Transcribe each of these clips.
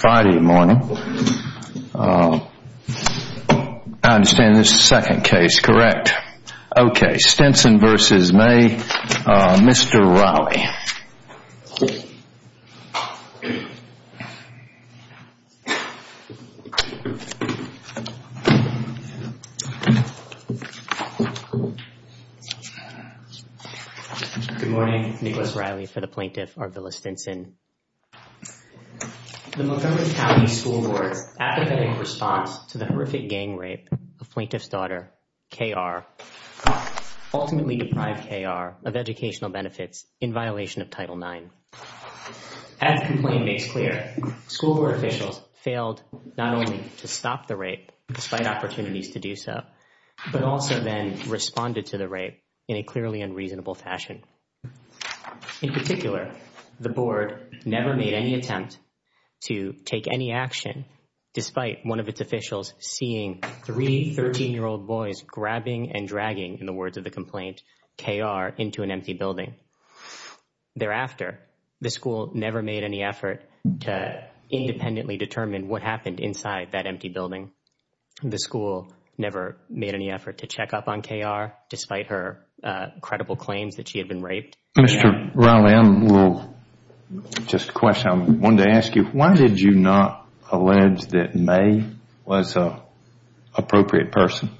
Friday morning. I understand this is the second case, correct? Okay, Stinson v. Maye, Mr. Riley. Good morning, Nicholas Riley for the Plaintiff, Arvilla Stinson. The Montgomery County School Board's academic response to the horrific gang rape of Plaintiff's daughter, K.R., ultimately deprived K.R. of educational benefits in violation of Title IX. As the complaint makes clear, school board officials failed not only to stop the rape, despite opportunities to do so, but also then responded to the rape in a clearly unreasonable fashion. In particular, the board never made any attempt to take any action despite one of its officials seeing three 13-year-old boys grabbing and dragging, in the words of the complaint, K.R. into an empty building. Thereafter, the school never made any effort to independently determine what happened inside that empty building. The school never made any effort to check up on K.R., despite her credible claims that she had been raped. Mr. Riley, I will just question. I wanted to ask you, why did you not allege that Maye was an appropriate person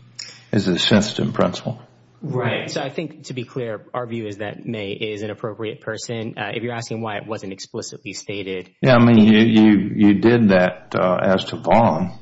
as a sensitive principal? Right. So I think, to be clear, our view is that Maye is an appropriate person. If you're asking why it wasn't explicitly stated Yeah, I mean, you did that as to Vaughn.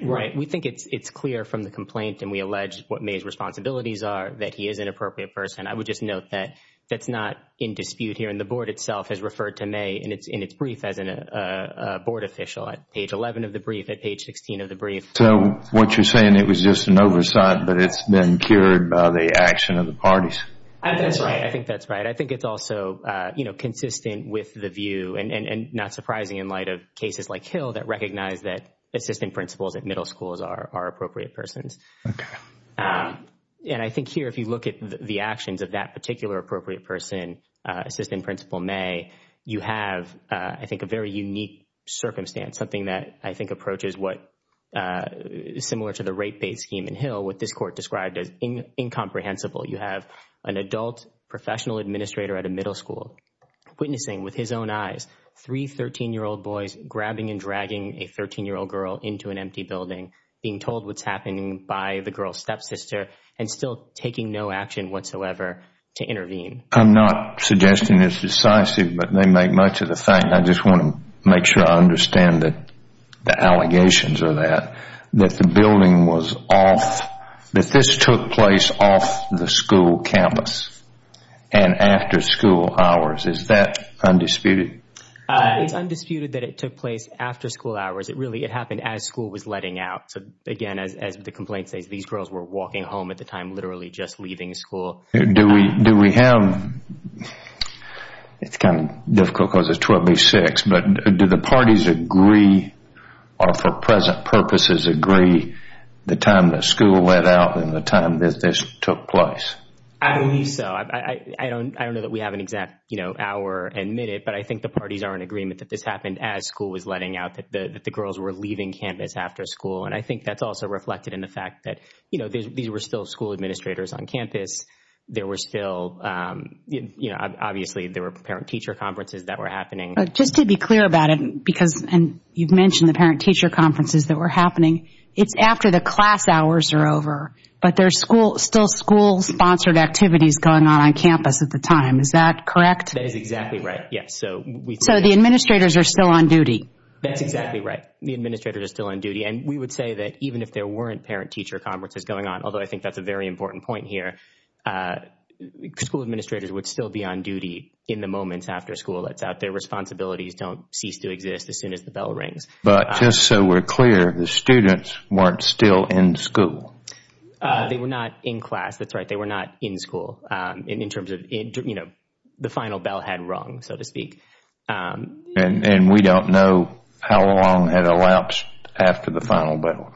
Right. We think it's clear from the complaint, and we allege what Maye's responsibilities are, that he is an appropriate person. I would just note that that's not in dispute here, and the board itself has referred to Maye in its brief as a board official at page 11 of the brief, at page 16 of the brief. So what you're saying, it was just an oversight, but it's been cured by the action of the parties. That's right. I think that's right. I think it's also consistent with the view, and not surprising in light of cases like Hill, that recognize that assistant principals at middle schools are appropriate persons. Okay. And I think here, if you look at the actions of that particular appropriate person, assistant principal Maye, you have, I think, a very unique circumstance, something that I think approaches what is similar to the rape bait scheme in Hill, what this court described as incomprehensible. You have an adult professional administrator at a middle school witnessing with his own eyes three 13-year-old boys grabbing and dragging a 13-year-old girl into an empty building, being told what's happening by the girl's stepsister, and still taking no action whatsoever to intervene. I'm not suggesting it's decisive, but they make much of the thing. I just want to make sure I understand the allegations of that, that the building was off, that this took place off the school campus and after school hours. Is that undisputed? It's undisputed that it took place after school hours. It really, it happened as school was letting out. So, again, as the complaint says, these girls were walking home at the time, literally just leaving school. Do we have, it's kind of difficult because it's 12-B-6, but do the parties agree, or for present purposes agree, the time that school let out and the time that this took place? I believe so. I don't know that we have an exact hour and minute, but I think the parties are in agreement that this happened as school was letting out, that the girls were leaving campus after school. And I think that's also reflected in the fact that these were still school administrators on campus. There were still, obviously, there were parent-teacher conferences that were happening. Just to be clear about it, because, and you've mentioned the parent-teacher conferences that were happening, it's after the class There were school-sponsored activities going on on campus at the time. Is that correct? That is exactly right, yes. So the administrators are still on duty. That's exactly right. The administrators are still on duty. And we would say that even if there weren't parent-teacher conferences going on, although I think that's a very important point here, school administrators would still be on duty in the moments after school lets out. Their responsibilities don't cease to exist as soon as the bell rings. But just so we're clear, the students weren't still in school. They were not in class. That's right. They were not in school in terms of, you know, the final bell had rung, so to speak. And we don't know how long had elapsed after the final bell.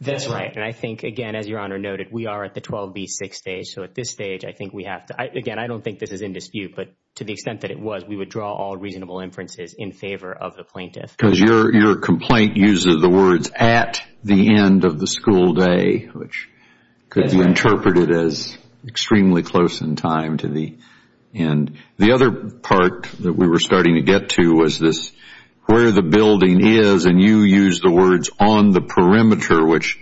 That's right. And I think, again, as Your Honor noted, we are at the 12B6 stage. So at this stage, I think we have to, again, I don't think this is in dispute, but to the extent that it was, we would draw all reasonable inferences in favor of the plaintiff. Because your complaint uses the words at the end of the school day, which could be interpreted as extremely close in time to the end. The other part that we were starting to get to was this where the building is, and you used the words on the perimeter, which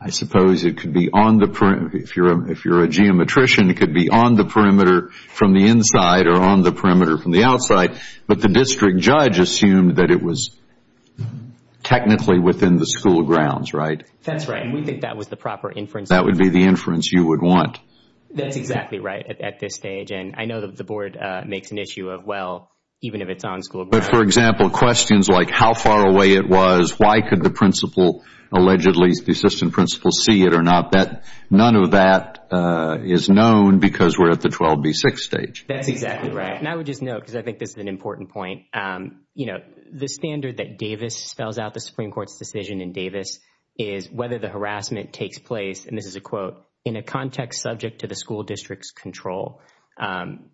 I suppose it could be on the perimeter. If you're a geometrician, it could be on the perimeter from the inside or on the perimeter from the outside. But the district judge assumed that it was technically within the school grounds, right? That's right. And we think that was the proper inference. That would be the inference you would want. That's exactly right at this stage. And I know that the Board makes an issue of, well, even if it's on school grounds. But, for example, questions like how far away it was, why could the principal, allegedly the assistant principal, see it or not, none of that is known because we're at the 12B6 stage. That's exactly right. And I would just note, because I think this is an important point, the standard that Davis spells out, the Supreme Court's decision in Davis, is whether the harassment takes place, and this is a quote, in a context subject to the school district's control.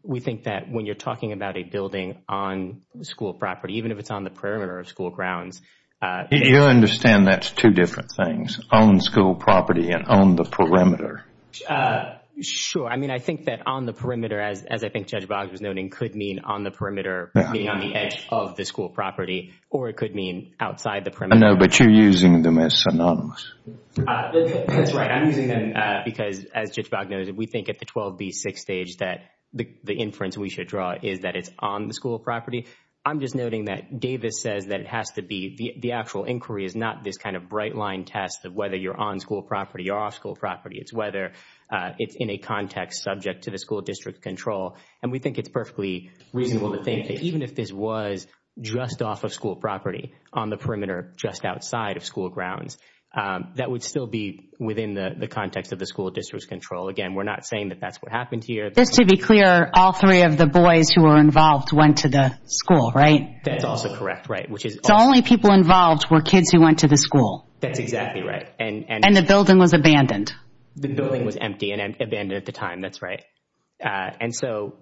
We think that when you're talking about a building on school property, even if it's on the perimeter of school grounds. You understand that's two different things, on school property and on the perimeter. Sure. I mean, I think that on the perimeter, as I think Judge Boggs was noting, could mean on the perimeter, being on the edge of the school property, or it could mean outside the perimeter. No, but you're using them as synonyms. That's right. I'm using them because, as Judge Boggs noted, we think at the 12B6 stage that the inference we should draw is that it's on the school property. I'm just noting that Davis says that it has to be, the actual inquiry is not this kind of bright line test of whether you're on school property or off school property. It's whether it's in a context subject to the school district control, and we think it's perfectly reasonable to think that even if this was just off of school property, on the perimeter just outside of school grounds, that would still be within the context of the school district's control. Again, we're not saying that that's what happened here. Just to be clear, all three of the boys who were involved went to the school, right? That's also correct, right. So only people involved were kids who went to the school? That's exactly right. And the building was abandoned. The building was empty and abandoned at the time. That's right. And so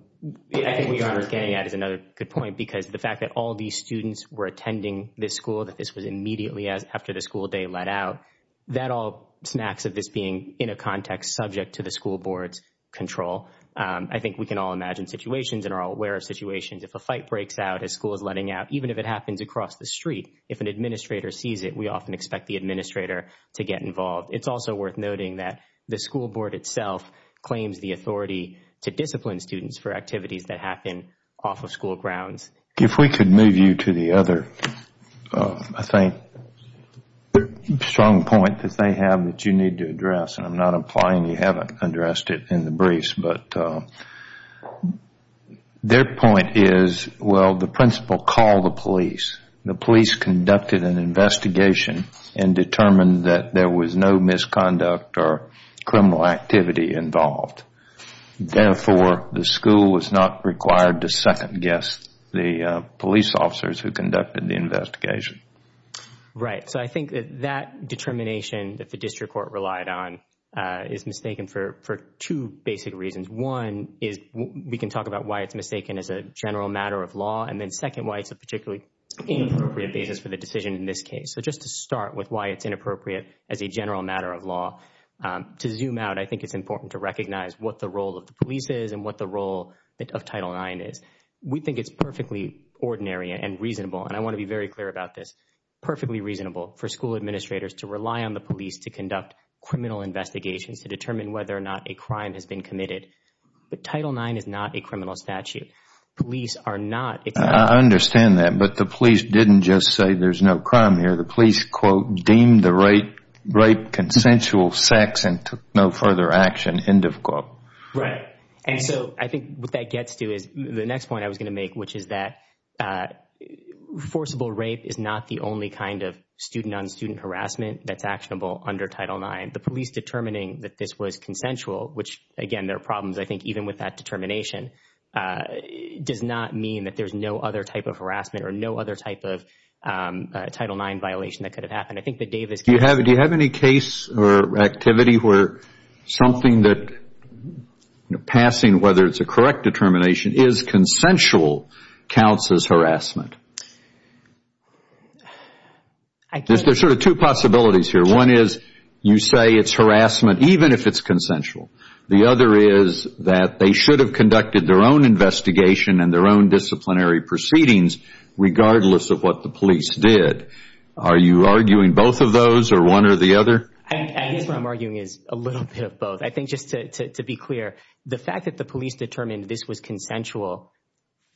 I think what you're getting at is another good point because the fact that all these students were attending this school, that this was immediately after the school day let out, that all snacks of this being in a context subject to the school board's control. I think we can all imagine situations and are all aware of situations. If a fight breaks out, a school is letting out, even if it happens across the street, if an administrator sees it, we often expect the administrator to get involved. It's also worth noting that the school board itself claims the authority to discipline students for activities that happen off of school grounds. If we could move you to the other, I think, strong point that they have that you need to address, and I'm not implying you haven't addressed it in the briefs, but their point is, well, the principal called the police. The police conducted an investigation and determined that there was no misconduct or criminal activity involved. Therefore, the school was not required to second-guess the police officers who conducted the investigation. Right. So I think that determination that the district court relied on is mistaken for two basic reasons. One is we can talk about why it's mistaken as a general matter of law. And then second, why it's a particularly inappropriate basis for the decision in this case. So just to start with why it's inappropriate as a general matter of law, to zoom out, I think it's important to recognize what the role of the police is and what the role of Title IX is. We think it's perfectly ordinary and reasonable, and I want to be very clear about this, perfectly reasonable for school administrators to rely on the police to conduct criminal investigations, to determine whether or not a crime has been committed. But Title IX is not a criminal statute. Police are not. I understand that, but the police didn't just say there's no crime here. The police, quote, deemed the rape consensual sex and took no further action, end of quote. Right. And so I think what that gets to is the next point I was going to make, which is that forcible rape is not the only kind of student-on-student harassment that's actionable under Title IX. The police determining that this was consensual, which, again, there are problems, I think, even with that determination, does not mean that there's no other type of harassment or no other type of Title IX violation that could have happened. Do you have any case or activity where something that, passing whether it's a correct determination, is consensual counts as harassment? There's sort of two possibilities here. One is you say it's harassment even if it's consensual. The other is that they should have conducted their own investigation and their own disciplinary proceedings regardless of what the police did. Are you arguing both of those or one or the other? I guess what I'm arguing is a little bit of both. I think just to be clear, the fact that the police determined this was consensual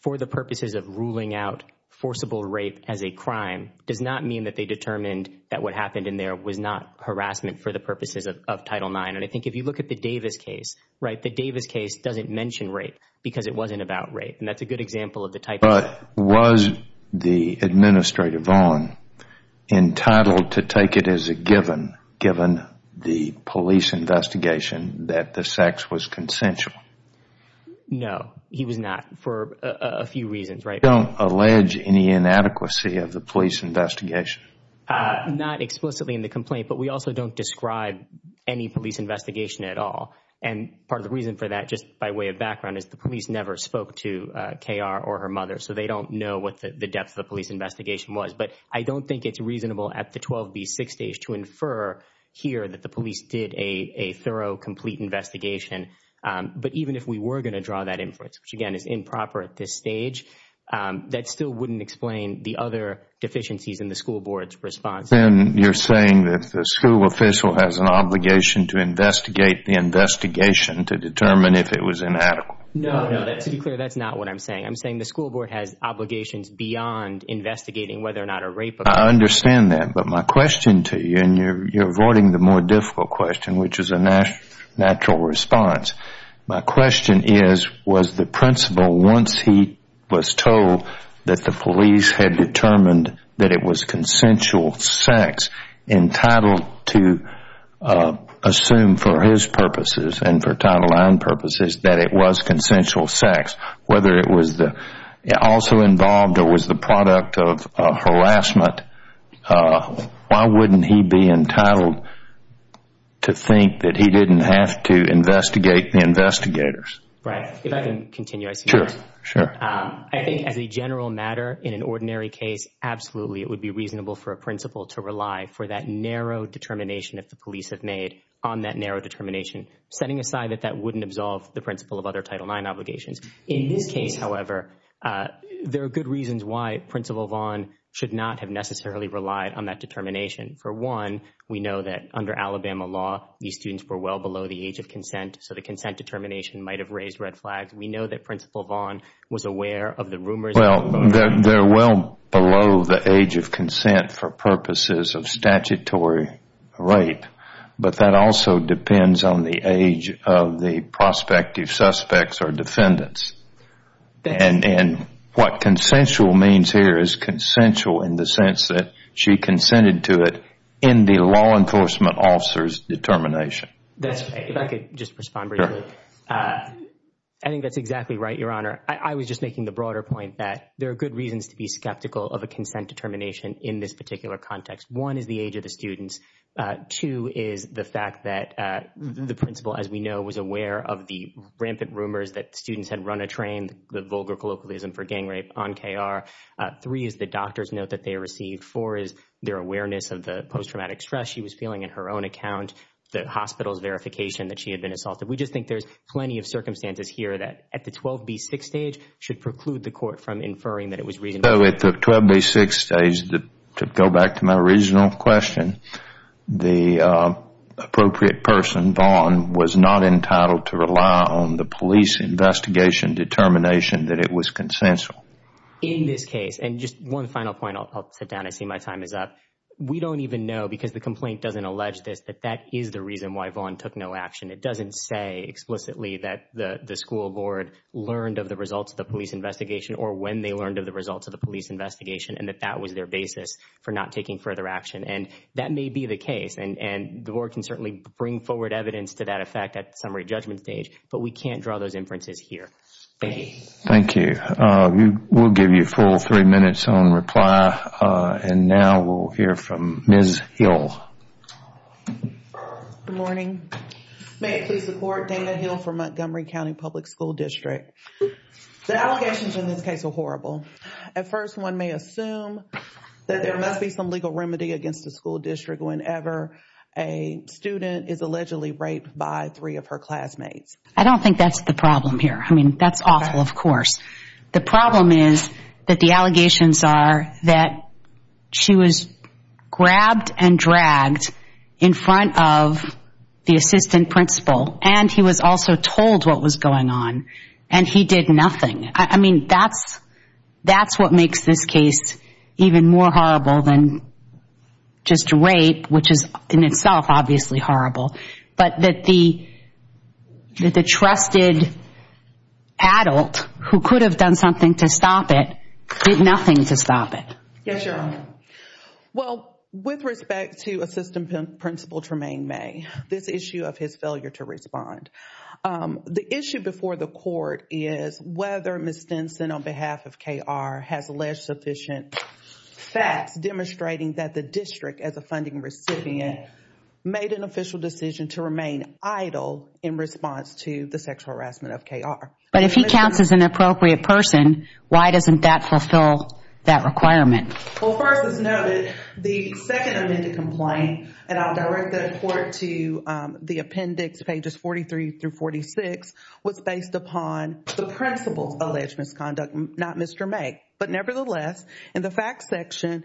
for the purposes of ruling out forcible rape as a crime does not mean that they determined that what happened in there was not harassment for the purposes of Title IX. And I think if you look at the Davis case, the Davis case doesn't mention rape because it wasn't about rape. And that's a good example of the type of— But was the administrator Vaughn entitled to take it as a given, given the police investigation, that the sex was consensual? No, he was not for a few reasons. You don't allege any inadequacy of the police investigation? Not explicitly in the complaint, but we also don't describe any police investigation at all. And part of the reason for that, just by way of background, is the police never spoke to K.R. or her mother, so they don't know what the depth of the police investigation was. But I don't think it's reasonable at the 12B6 stage to infer here that the police did a thorough, complete investigation. But even if we were going to draw that inference, which again is improper at this stage, that still wouldn't explain the other deficiencies in the school board's response. And you're saying that the school official has an obligation to investigate the investigation to determine if it was inadequate? No, no, to be clear, that's not what I'm saying. I'm saying the school board has obligations beyond investigating whether or not a rape occurred. I understand that, but my question to you, and you're avoiding the more difficult question, which is a natural response. My question is, was the principal, once he was told that the police had determined that it was consensual sex, entitled to assume for his purposes and for Title IX purposes that it was consensual sex, whether it was also involved or was the product of harassment, why wouldn't he be entitled to think that he didn't have to investigate the investigators? Brad, if I can continue. Sure, sure. I think as a general matter, in an ordinary case, absolutely it would be reasonable for a principal to rely for that narrow determination that the police have made on that narrow determination, setting aside that that wouldn't absolve the principal of other Title IX obligations. In this case, however, there are good reasons why Principal Vaughn should not have necessarily relied on that determination. For one, we know that under Alabama law, these students were well below the age of consent, so the consent determination might have raised red flags. We know that Principal Vaughn was aware of the rumors. Well, they're well below the age of consent for purposes of statutory rape, but that also depends on the age of the prospective suspects or defendants. And what consensual means here is consensual in the sense that she consented to it in the law enforcement officer's determination. If I could just respond briefly. Sure. I think that's exactly right, Your Honor. I was just making the broader point that there are good reasons to be skeptical of a consent determination in this particular context. One is the age of the students. Two is the fact that the principal, as we know, was aware of the rampant rumors that students had run a train, the vulgar colloquialism for gang rape on KR. Three is the doctor's note that they received. Four is their awareness of the post-traumatic stress she was feeling in her own account, the hospital's verification that she had been assaulted. We just think there's plenty of circumstances here that, at the 12B6 stage, should preclude the court from inferring that it was reasonable. So at the 12B6 stage, to go back to my original question, the appropriate person, Vaughn, was not entitled to rely on the police investigation determination that it was consensual. In this case, and just one final point, I'll sit down. I see my time is up. We don't even know, because the complaint doesn't allege this, that that is the reason why Vaughn took no action. It doesn't say explicitly that the school board learned of the results of the police investigation or when they learned of the results of the police investigation and that that was their basis for not taking further action. And that may be the case. And the board can certainly bring forward evidence to that effect at the summary judgment stage, but we can't draw those inferences here. Thank you. Thank you. We'll give you a full three minutes on reply. And now we'll hear from Ms. Hill. Good morning. May it please the Court, Dana Hill for Montgomery County Public School District. The allegations in this case are horrible. At first, one may assume that there must be some legal remedy against the school district whenever a student is allegedly raped by three of her classmates. I don't think that's the problem here. I mean, that's awful, of course. The problem is that the allegations are that she was grabbed and dragged in front of the assistant principal, and he was also told what was going on, and he did nothing. I mean, that's what makes this case even more horrible than just rape, which is in itself obviously horrible, but that the trusted adult who could have done something to stop it did nothing to stop it. Yes, Your Honor. Well, with respect to Assistant Principal Tremaine May, this issue of his failure to respond, the issue before the Court is whether Ms. Stinson, on behalf of KR, has alleged sufficient facts demonstrating that the district, as a funding recipient, made an official decision to remain idle in response to the sexual harassment of KR. But if he counts as an appropriate person, why doesn't that fulfill that requirement? Well, first let's note that the second amended complaint, and I'll direct that report to the appendix pages 43 through 46, was based upon the principal's alleged misconduct, not Mr. May. But nevertheless, in the facts section,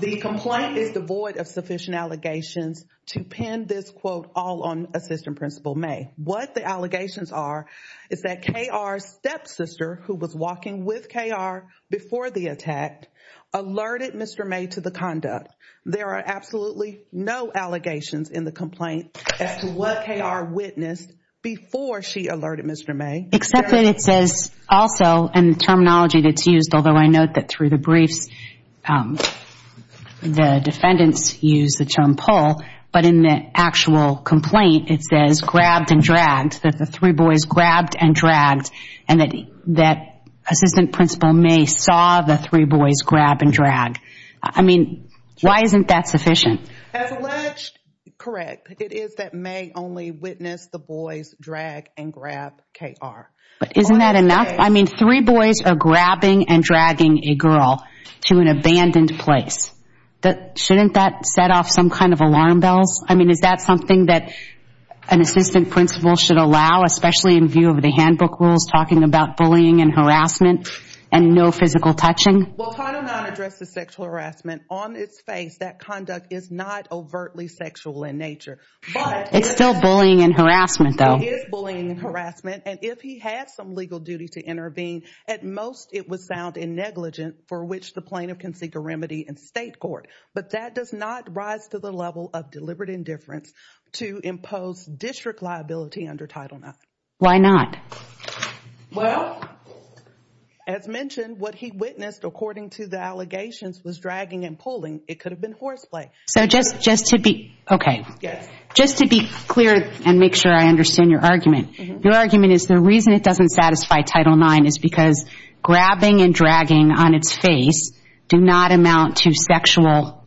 the complaint is devoid of sufficient allegations to pin this quote all on Assistant Principal May. What the allegations are is that KR's stepsister, who was walking with KR before the attack, alerted Mr. May to the conduct. There are absolutely no allegations in the complaint as to what KR witnessed before she alerted Mr. May. Except that it says also in the terminology that's used, although I note that through the briefs the defendants used the term pull, but in the actual complaint it says grabbed and dragged, that the three boys grabbed and dragged, and that Assistant Principal May saw the three boys grab and drag. I mean, why isn't that sufficient? As alleged, correct. It is that May only witnessed the boys drag and grab KR. But isn't that enough? I mean, three boys are grabbing and dragging a girl to an abandoned place. Shouldn't that set off some kind of alarm bells? I mean, is that something that an assistant principal should allow, especially in view of the handbook rules talking about bullying and harassment and no physical touching? Well, Title IX addresses sexual harassment on its face. That conduct is not overtly sexual in nature. It's still bullying and harassment, though. It is bullying and harassment, and if he had some legal duty to intervene, at most it would sound negligent for which the plaintiff can seek a remedy in state court. But that does not rise to the level of deliberate indifference to impose district liability under Title IX. Why not? Well, as mentioned, what he witnessed, according to the allegations, was dragging and pulling. It could have been horseplay. So just to be clear and make sure I understand your argument, your argument is the reason it doesn't satisfy Title IX is because grabbing and dragging on its face do not amount to sexual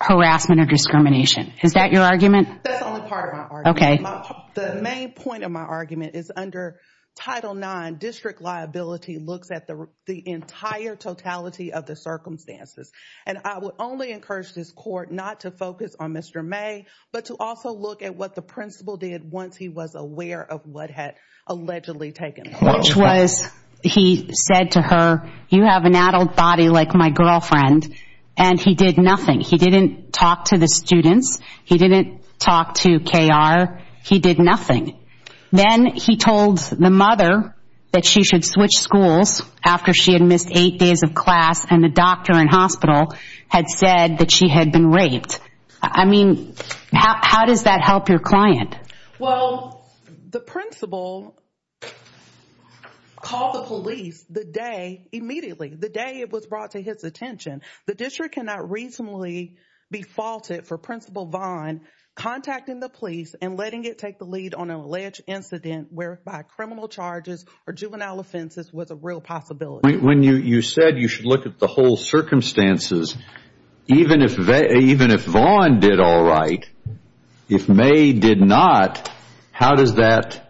harassment or discrimination. Is that your argument? That's only part of my argument. Okay. The main point of my argument is under Title IX, district liability looks at the entire totality of the circumstances. And I would only encourage this court not to focus on Mr. May but to also look at what the principal did once he was aware of what had allegedly taken place. Which was he said to her, you have an adult body like my girlfriend, and he did nothing. He didn't talk to the students. He didn't talk to KR. He did nothing. Then he told the mother that she should switch schools after she had missed eight days of class and the doctor in hospital had said that she had been raped. I mean, how does that help your client? Well, the principal called the police the day, immediately, the day it was brought to his attention. The district cannot reasonably be faulted for Principal Vaughn contacting the police and letting it take the lead on an alleged incident whereby criminal charges or juvenile offenses was a real possibility. When you said you should look at the whole circumstances, even if Vaughn did all right, if May did not, how does that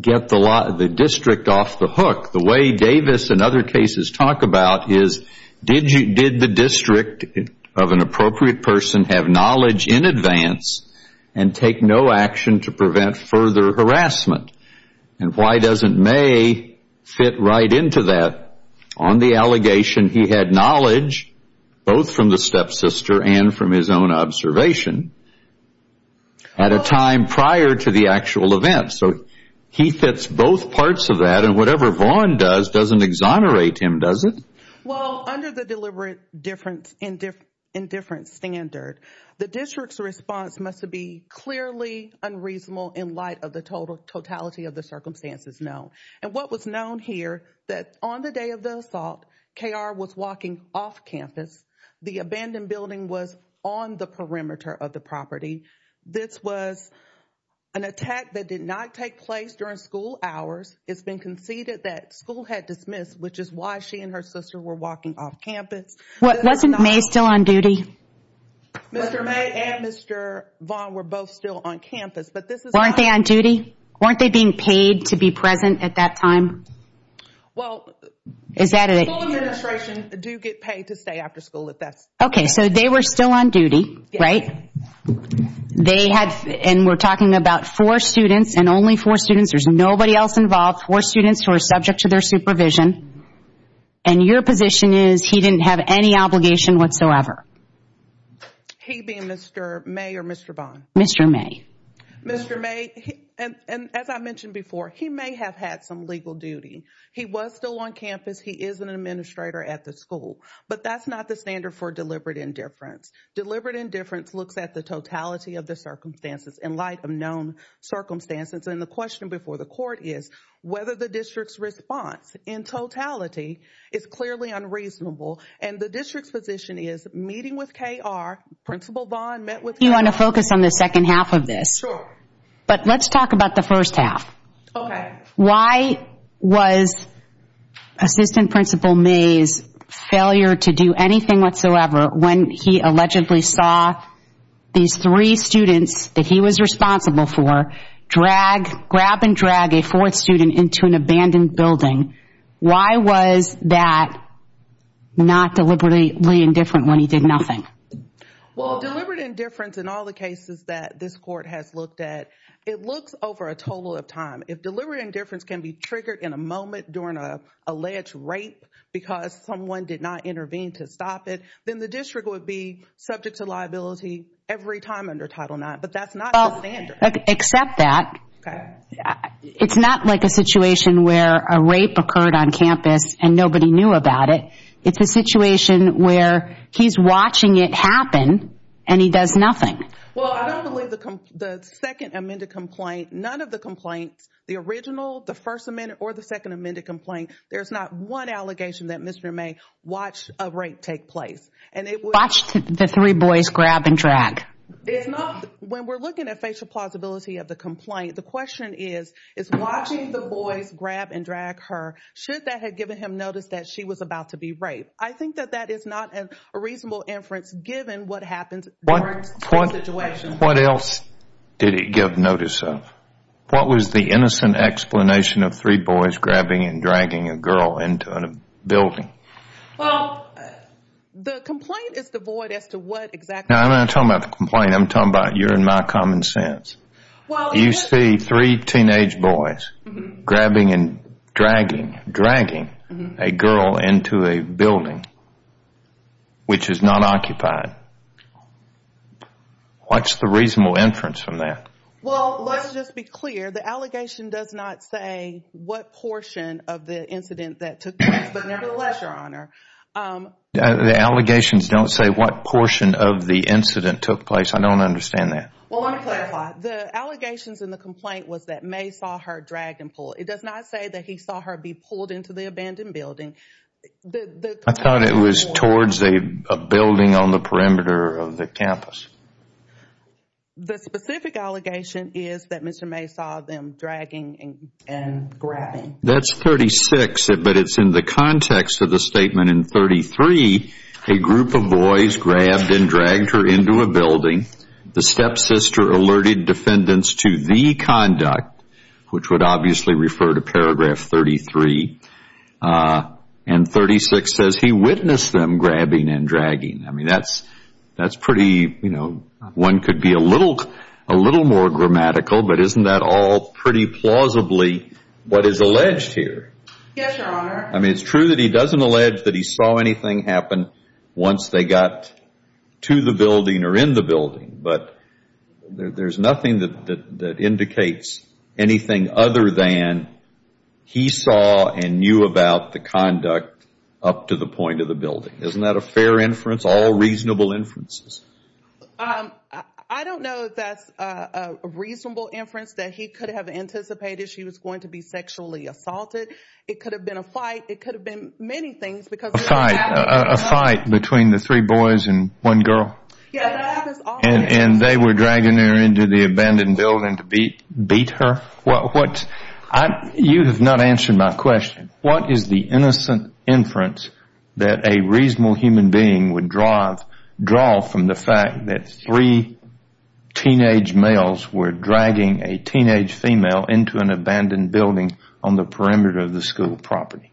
get the district off the hook? The way Davis and other cases talk about is did the district of an appropriate person have knowledge in advance and take no action to prevent further harassment? And why doesn't May fit right into that? On the allegation, he had knowledge both from the stepsister and from his own observation at a time prior to the actual event. So he fits both parts of that, and whatever Vaughn does doesn't exonerate him, does it? Well, under the deliberate indifference standard, the district's response must be clearly unreasonable in light of the totality of the circumstances, no. And what was known here, that on the day of the assault, K.R. was walking off campus. The abandoned building was on the perimeter of the property. This was an attack that did not take place during school hours. It's been conceded that school had dismissed, which is why she and her sister were walking off campus. Wasn't May still on duty? Mr. May and Mr. Vaughn were both still on campus, but this is not. Still on duty? Weren't they being paid to be present at that time? Well, school administration do get paid to stay after school if that's the case. Okay, so they were still on duty, right? They had, and we're talking about four students and only four students. There's nobody else involved, four students who are subject to their supervision. And your position is he didn't have any obligation whatsoever? He being Mr. May or Mr. Vaughn? Mr. May. Mr. May, and as I mentioned before, he may have had some legal duty. He was still on campus. He is an administrator at the school. But that's not the standard for deliberate indifference. Deliberate indifference looks at the totality of the circumstances in light of known circumstances. And the question before the court is whether the district's response in totality is clearly unreasonable. And the district's position is meeting with K.R., Principal Vaughn met with K.R. I know you want to focus on the second half of this. Sure. But let's talk about the first half. Okay. Why was Assistant Principal May's failure to do anything whatsoever when he allegedly saw these three students that he was responsible for drag, grab and drag a fourth student into an abandoned building? Why was that not deliberately indifferent when he did nothing? Well, deliberate indifference in all the cases that this court has looked at, it looks over a total of time. If deliberate indifference can be triggered in a moment during an alleged rape because someone did not intervene to stop it, then the district would be subject to liability every time under Title IX. But that's not the standard. Except that. Okay. It's not like a situation where a rape occurred on campus and nobody knew about it. It's a situation where he's watching it happen and he does nothing. Well, I don't believe the second amended complaint, none of the complaints, the original, the first amended or the second amended complaint, there's not one allegation that Mr. May watched a rape take place. Watched the three boys grab and drag. When we're looking at facial plausibility of the complaint, the question is, is watching the boys grab and drag her, should that have given him notice that she was about to be raped? I think that that is not a reasonable inference given what happened during the situation. What else did it give notice of? What was the innocent explanation of three boys grabbing and dragging a girl into a building? Well, the complaint is devoid as to what exactly. Now, I'm not talking about the complaint. I'm talking about you're in my common sense. You see three teenage boys grabbing and dragging, dragging a girl into a building which is not occupied. What's the reasonable inference from that? Well, let's just be clear. The allegation does not say what portion of the incident that took place. But nevertheless, Your Honor. The allegations don't say what portion of the incident took place. I don't understand that. Well, let me clarify. The allegations in the complaint was that May saw her dragged and pulled. It does not say that he saw her be pulled into the abandoned building. I thought it was towards a building on the perimeter of the campus. The specific allegation is that Mr. May saw them dragging and grabbing. That's 36, but it's in the context of the statement in 33, a group of boys grabbed and dragged her into a building. The stepsister alerted defendants to the conduct, which would obviously refer to paragraph 33. And 36 says he witnessed them grabbing and dragging. I mean, that's pretty, you know, one could be a little more grammatical, but isn't that all pretty plausibly what is alleged here? Yes, Your Honor. I mean, it's true that he doesn't allege that he saw anything happen once they got to the building or in the building, but there's nothing that indicates anything other than he saw and knew about the conduct up to the point of the building. Isn't that a fair inference, all reasonable inferences? I don't know if that's a reasonable inference, that he could have anticipated she was going to be sexually assaulted. It could have been a fight. It could have been many things. A fight? A fight between the three boys and one girl? Yes. And they were dragging her into the abandoned building to beat her? You have not answered my question. What is the innocent inference that a reasonable human being would draw from the fact that three teenage males were dragging a teenage female into an abandoned building on the perimeter of the school property?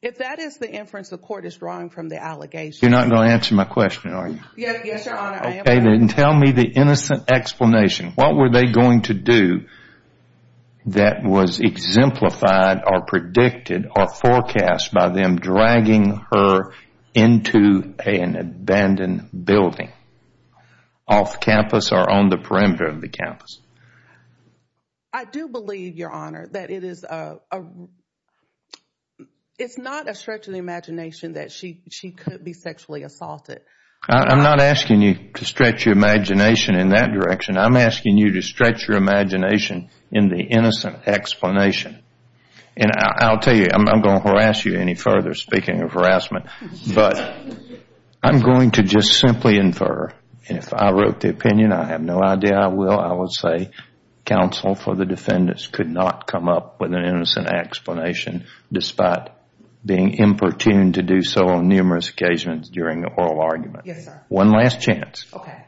If that is the inference the court is drawing from the allegation. You're not going to answer my question, are you? Yes, Your Honor. Okay, then tell me the innocent explanation. What were they going to do that was exemplified or predicted or forecast by them dragging her into an abandoned building off campus or on the perimeter of the campus? I do believe, Your Honor, that it is not a stretch of the imagination that she could be sexually assaulted. I'm not asking you to stretch your imagination in that direction. I'm asking you to stretch your imagination in the innocent explanation. And I'll tell you, I'm not going to harass you any further, speaking of harassment, but I'm going to just simply infer, and if I wrote the opinion, I have no idea I will, I would say counsel for the defendants could not come up with an innocent explanation despite being importuned to do so on numerous occasions during the oral argument. Yes, sir. One last chance. Okay.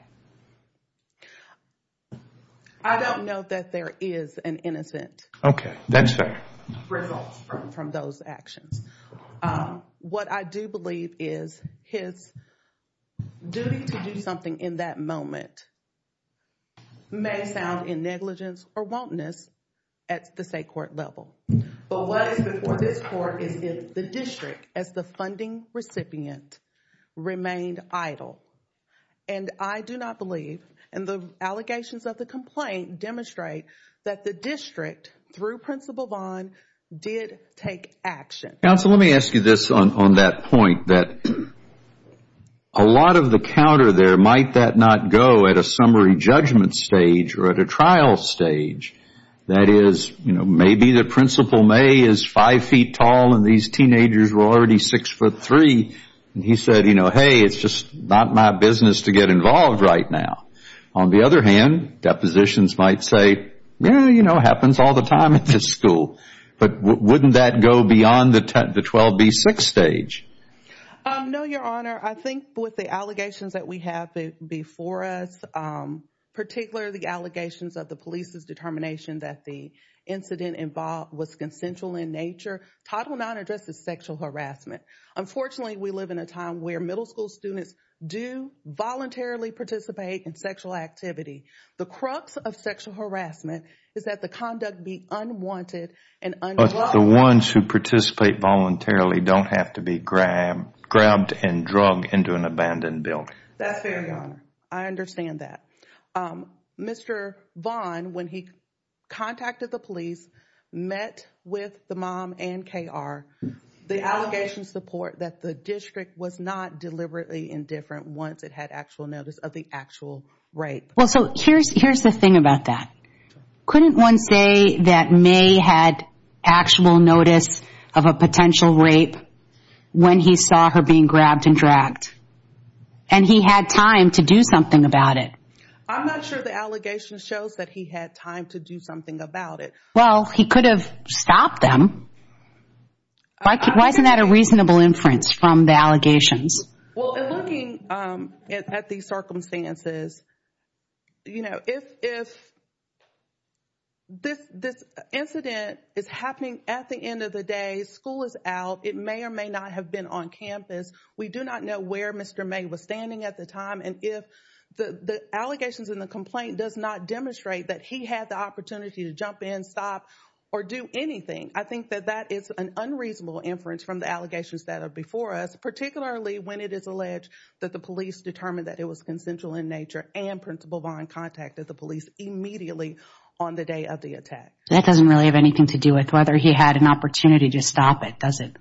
I don't know that there is an innocent result from those actions. What I do believe is his duty to do something in that moment may sound in negligence or wantonness at the state court level. But what is before this court is if the district, as the funding recipient, remained idle. And I do not believe, and the allegations of the complaint demonstrate, that the district, through Principal Vaughn, did take action. Counsel, let me ask you this on that point, that a lot of the counter there, might that not go at a summary judgment stage or at a trial stage? That is, you know, maybe the Principal May is five feet tall and these teenagers were already six foot three, and he said, you know, hey, it's just not my business to get involved right now. On the other hand, depositions might say, you know, it happens all the time at this school. But wouldn't that go beyond the 12B6 stage? No, Your Honor. I think with the allegations that we have before us, particularly the allegations of the police's determination that the incident involved was consensual in nature, Title IX addresses sexual harassment. Unfortunately, we live in a time where middle school students do voluntarily participate in sexual activity. The crux of sexual harassment is that the conduct be unwanted and unloved. But the ones who participate voluntarily don't have to be grabbed and drugged into an abandoned building. That's fair, Your Honor. I understand that. Mr. Vaughn, when he contacted the police, met with the mom and KR. The allegations support that the district was not deliberately indifferent once it had actual notice of the actual rape. Well, so here's the thing about that. Couldn't one say that May had actual notice of a potential rape when he saw her being grabbed and dragged? And he had time to do something about it. I'm not sure the allegation shows that he had time to do something about it. Well, he could have stopped them. Why isn't that a reasonable inference from the allegations? Well, looking at the circumstances, you know, if this incident is happening at the end of the day, school is out, it may or may not have been on campus. We do not know where Mr. May was standing at the time. And if the allegations in the complaint does not demonstrate that he had the opportunity to jump in, stop, or do anything, I think that that is an unreasonable inference from the allegations that are before us, particularly when it is alleged that the police determined that it was consensual in nature and Principal Vaughn contacted the police immediately on the day of the attack. That doesn't really have anything to do with whether he had an opportunity to stop it, does it?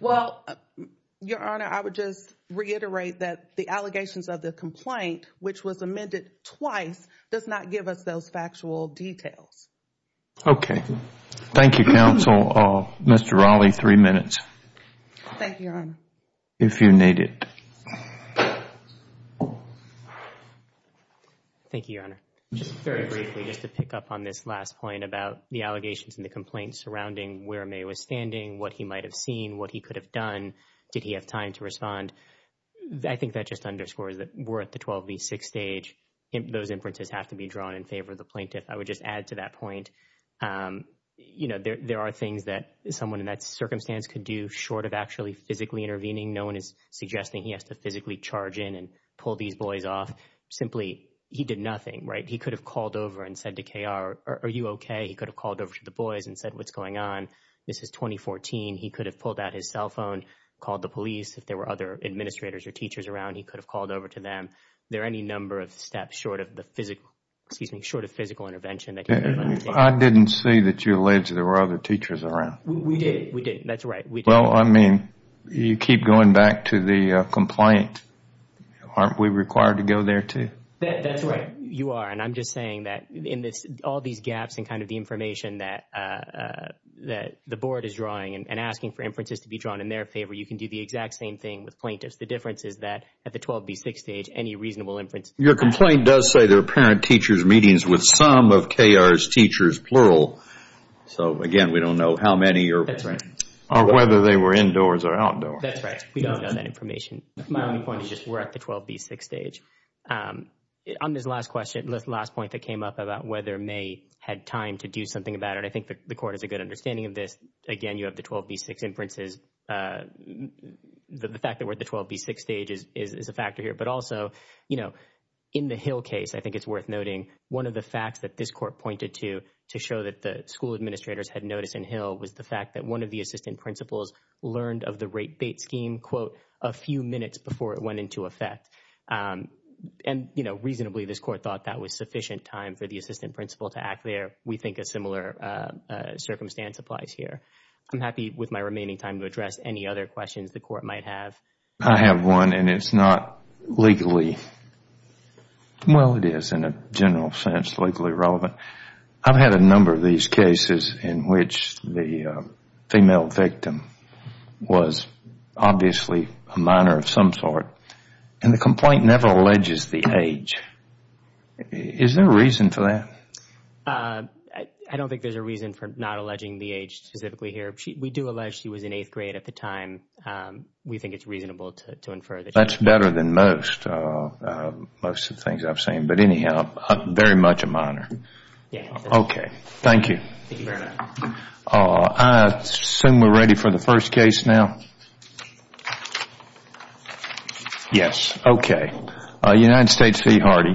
Well, Your Honor, I would just reiterate that the allegations of the complaint, which was amended twice, does not give us those factual details. Okay. Thank you, counsel. Mr. Raleigh, three minutes. Thank you, Your Honor. If you need it. Thank you, Your Honor. Just very briefly, just to pick up on this last point about the allegations in the complaint surrounding where May was standing, what he might have seen, what he could have done, did he have time to respond, I think that just underscores that we're at the 12 v. 6 stage. Those inferences have to be drawn in favor of the plaintiff. I would just add to that point, you know, there are things that someone in that circumstance could do short of actually physically intervening. No one is suggesting he has to physically charge in and pull these boys off. Simply, he did nothing, right? He could have called over and said to KR, are you okay? He could have called over to the boys and said, what's going on? This is 2014. He could have pulled out his cell phone, called the police. If there were other administrators or teachers around, he could have called over to them. There are any number of steps short of the physical, excuse me, short of physical intervention. I didn't see that you alleged there were other teachers around. We did. We did. That's right. Well, I mean, you keep going back to the complaint. Aren't we required to go there, too? That's right. You are. And I'm just saying that in all these gaps in kind of the information that the board is drawing and asking for inferences to be drawn in their favor, you can do the exact same thing with plaintiffs. The difference is that at the 12B6 stage, any reasonable inference. Your complaint does say there are parent-teachers meetings with some of KR's teachers, plural. So, again, we don't know how many or whether they were indoors or outdoors. That's right. We don't know that information. My only point is just we're at the 12B6 stage. On this last question, last point that came up about whether May had time to do something about it, I think the court has a good understanding of this. Again, you have the 12B6 inferences. The fact that we're at the 12B6 stage is a factor here. But also, you know, in the Hill case, I think it's worth noting one of the facts that this court pointed to to show that the school administrators had noticed in Hill was the fact that one of the assistant principals learned of the rape bait scheme, quote, a few minutes before it went into effect. And, you know, reasonably, this court thought that was sufficient time for the assistant principal to act there. We think a similar circumstance applies here. I'm happy with my remaining time to address any other questions the court might have. I have one, and it's not legally – well, it is in a general sense legally relevant. But I've had a number of these cases in which the female victim was obviously a minor of some sort, and the complaint never alleges the age. Is there a reason for that? I don't think there's a reason for not alleging the age specifically here. We do allege she was in eighth grade at the time. We think it's reasonable to infer that she was. That's better than most of the things I've seen. But anyhow, very much a minor. Okay. Thank you. I assume we're ready for the first case now? Yes. Okay. United States v. Hardy.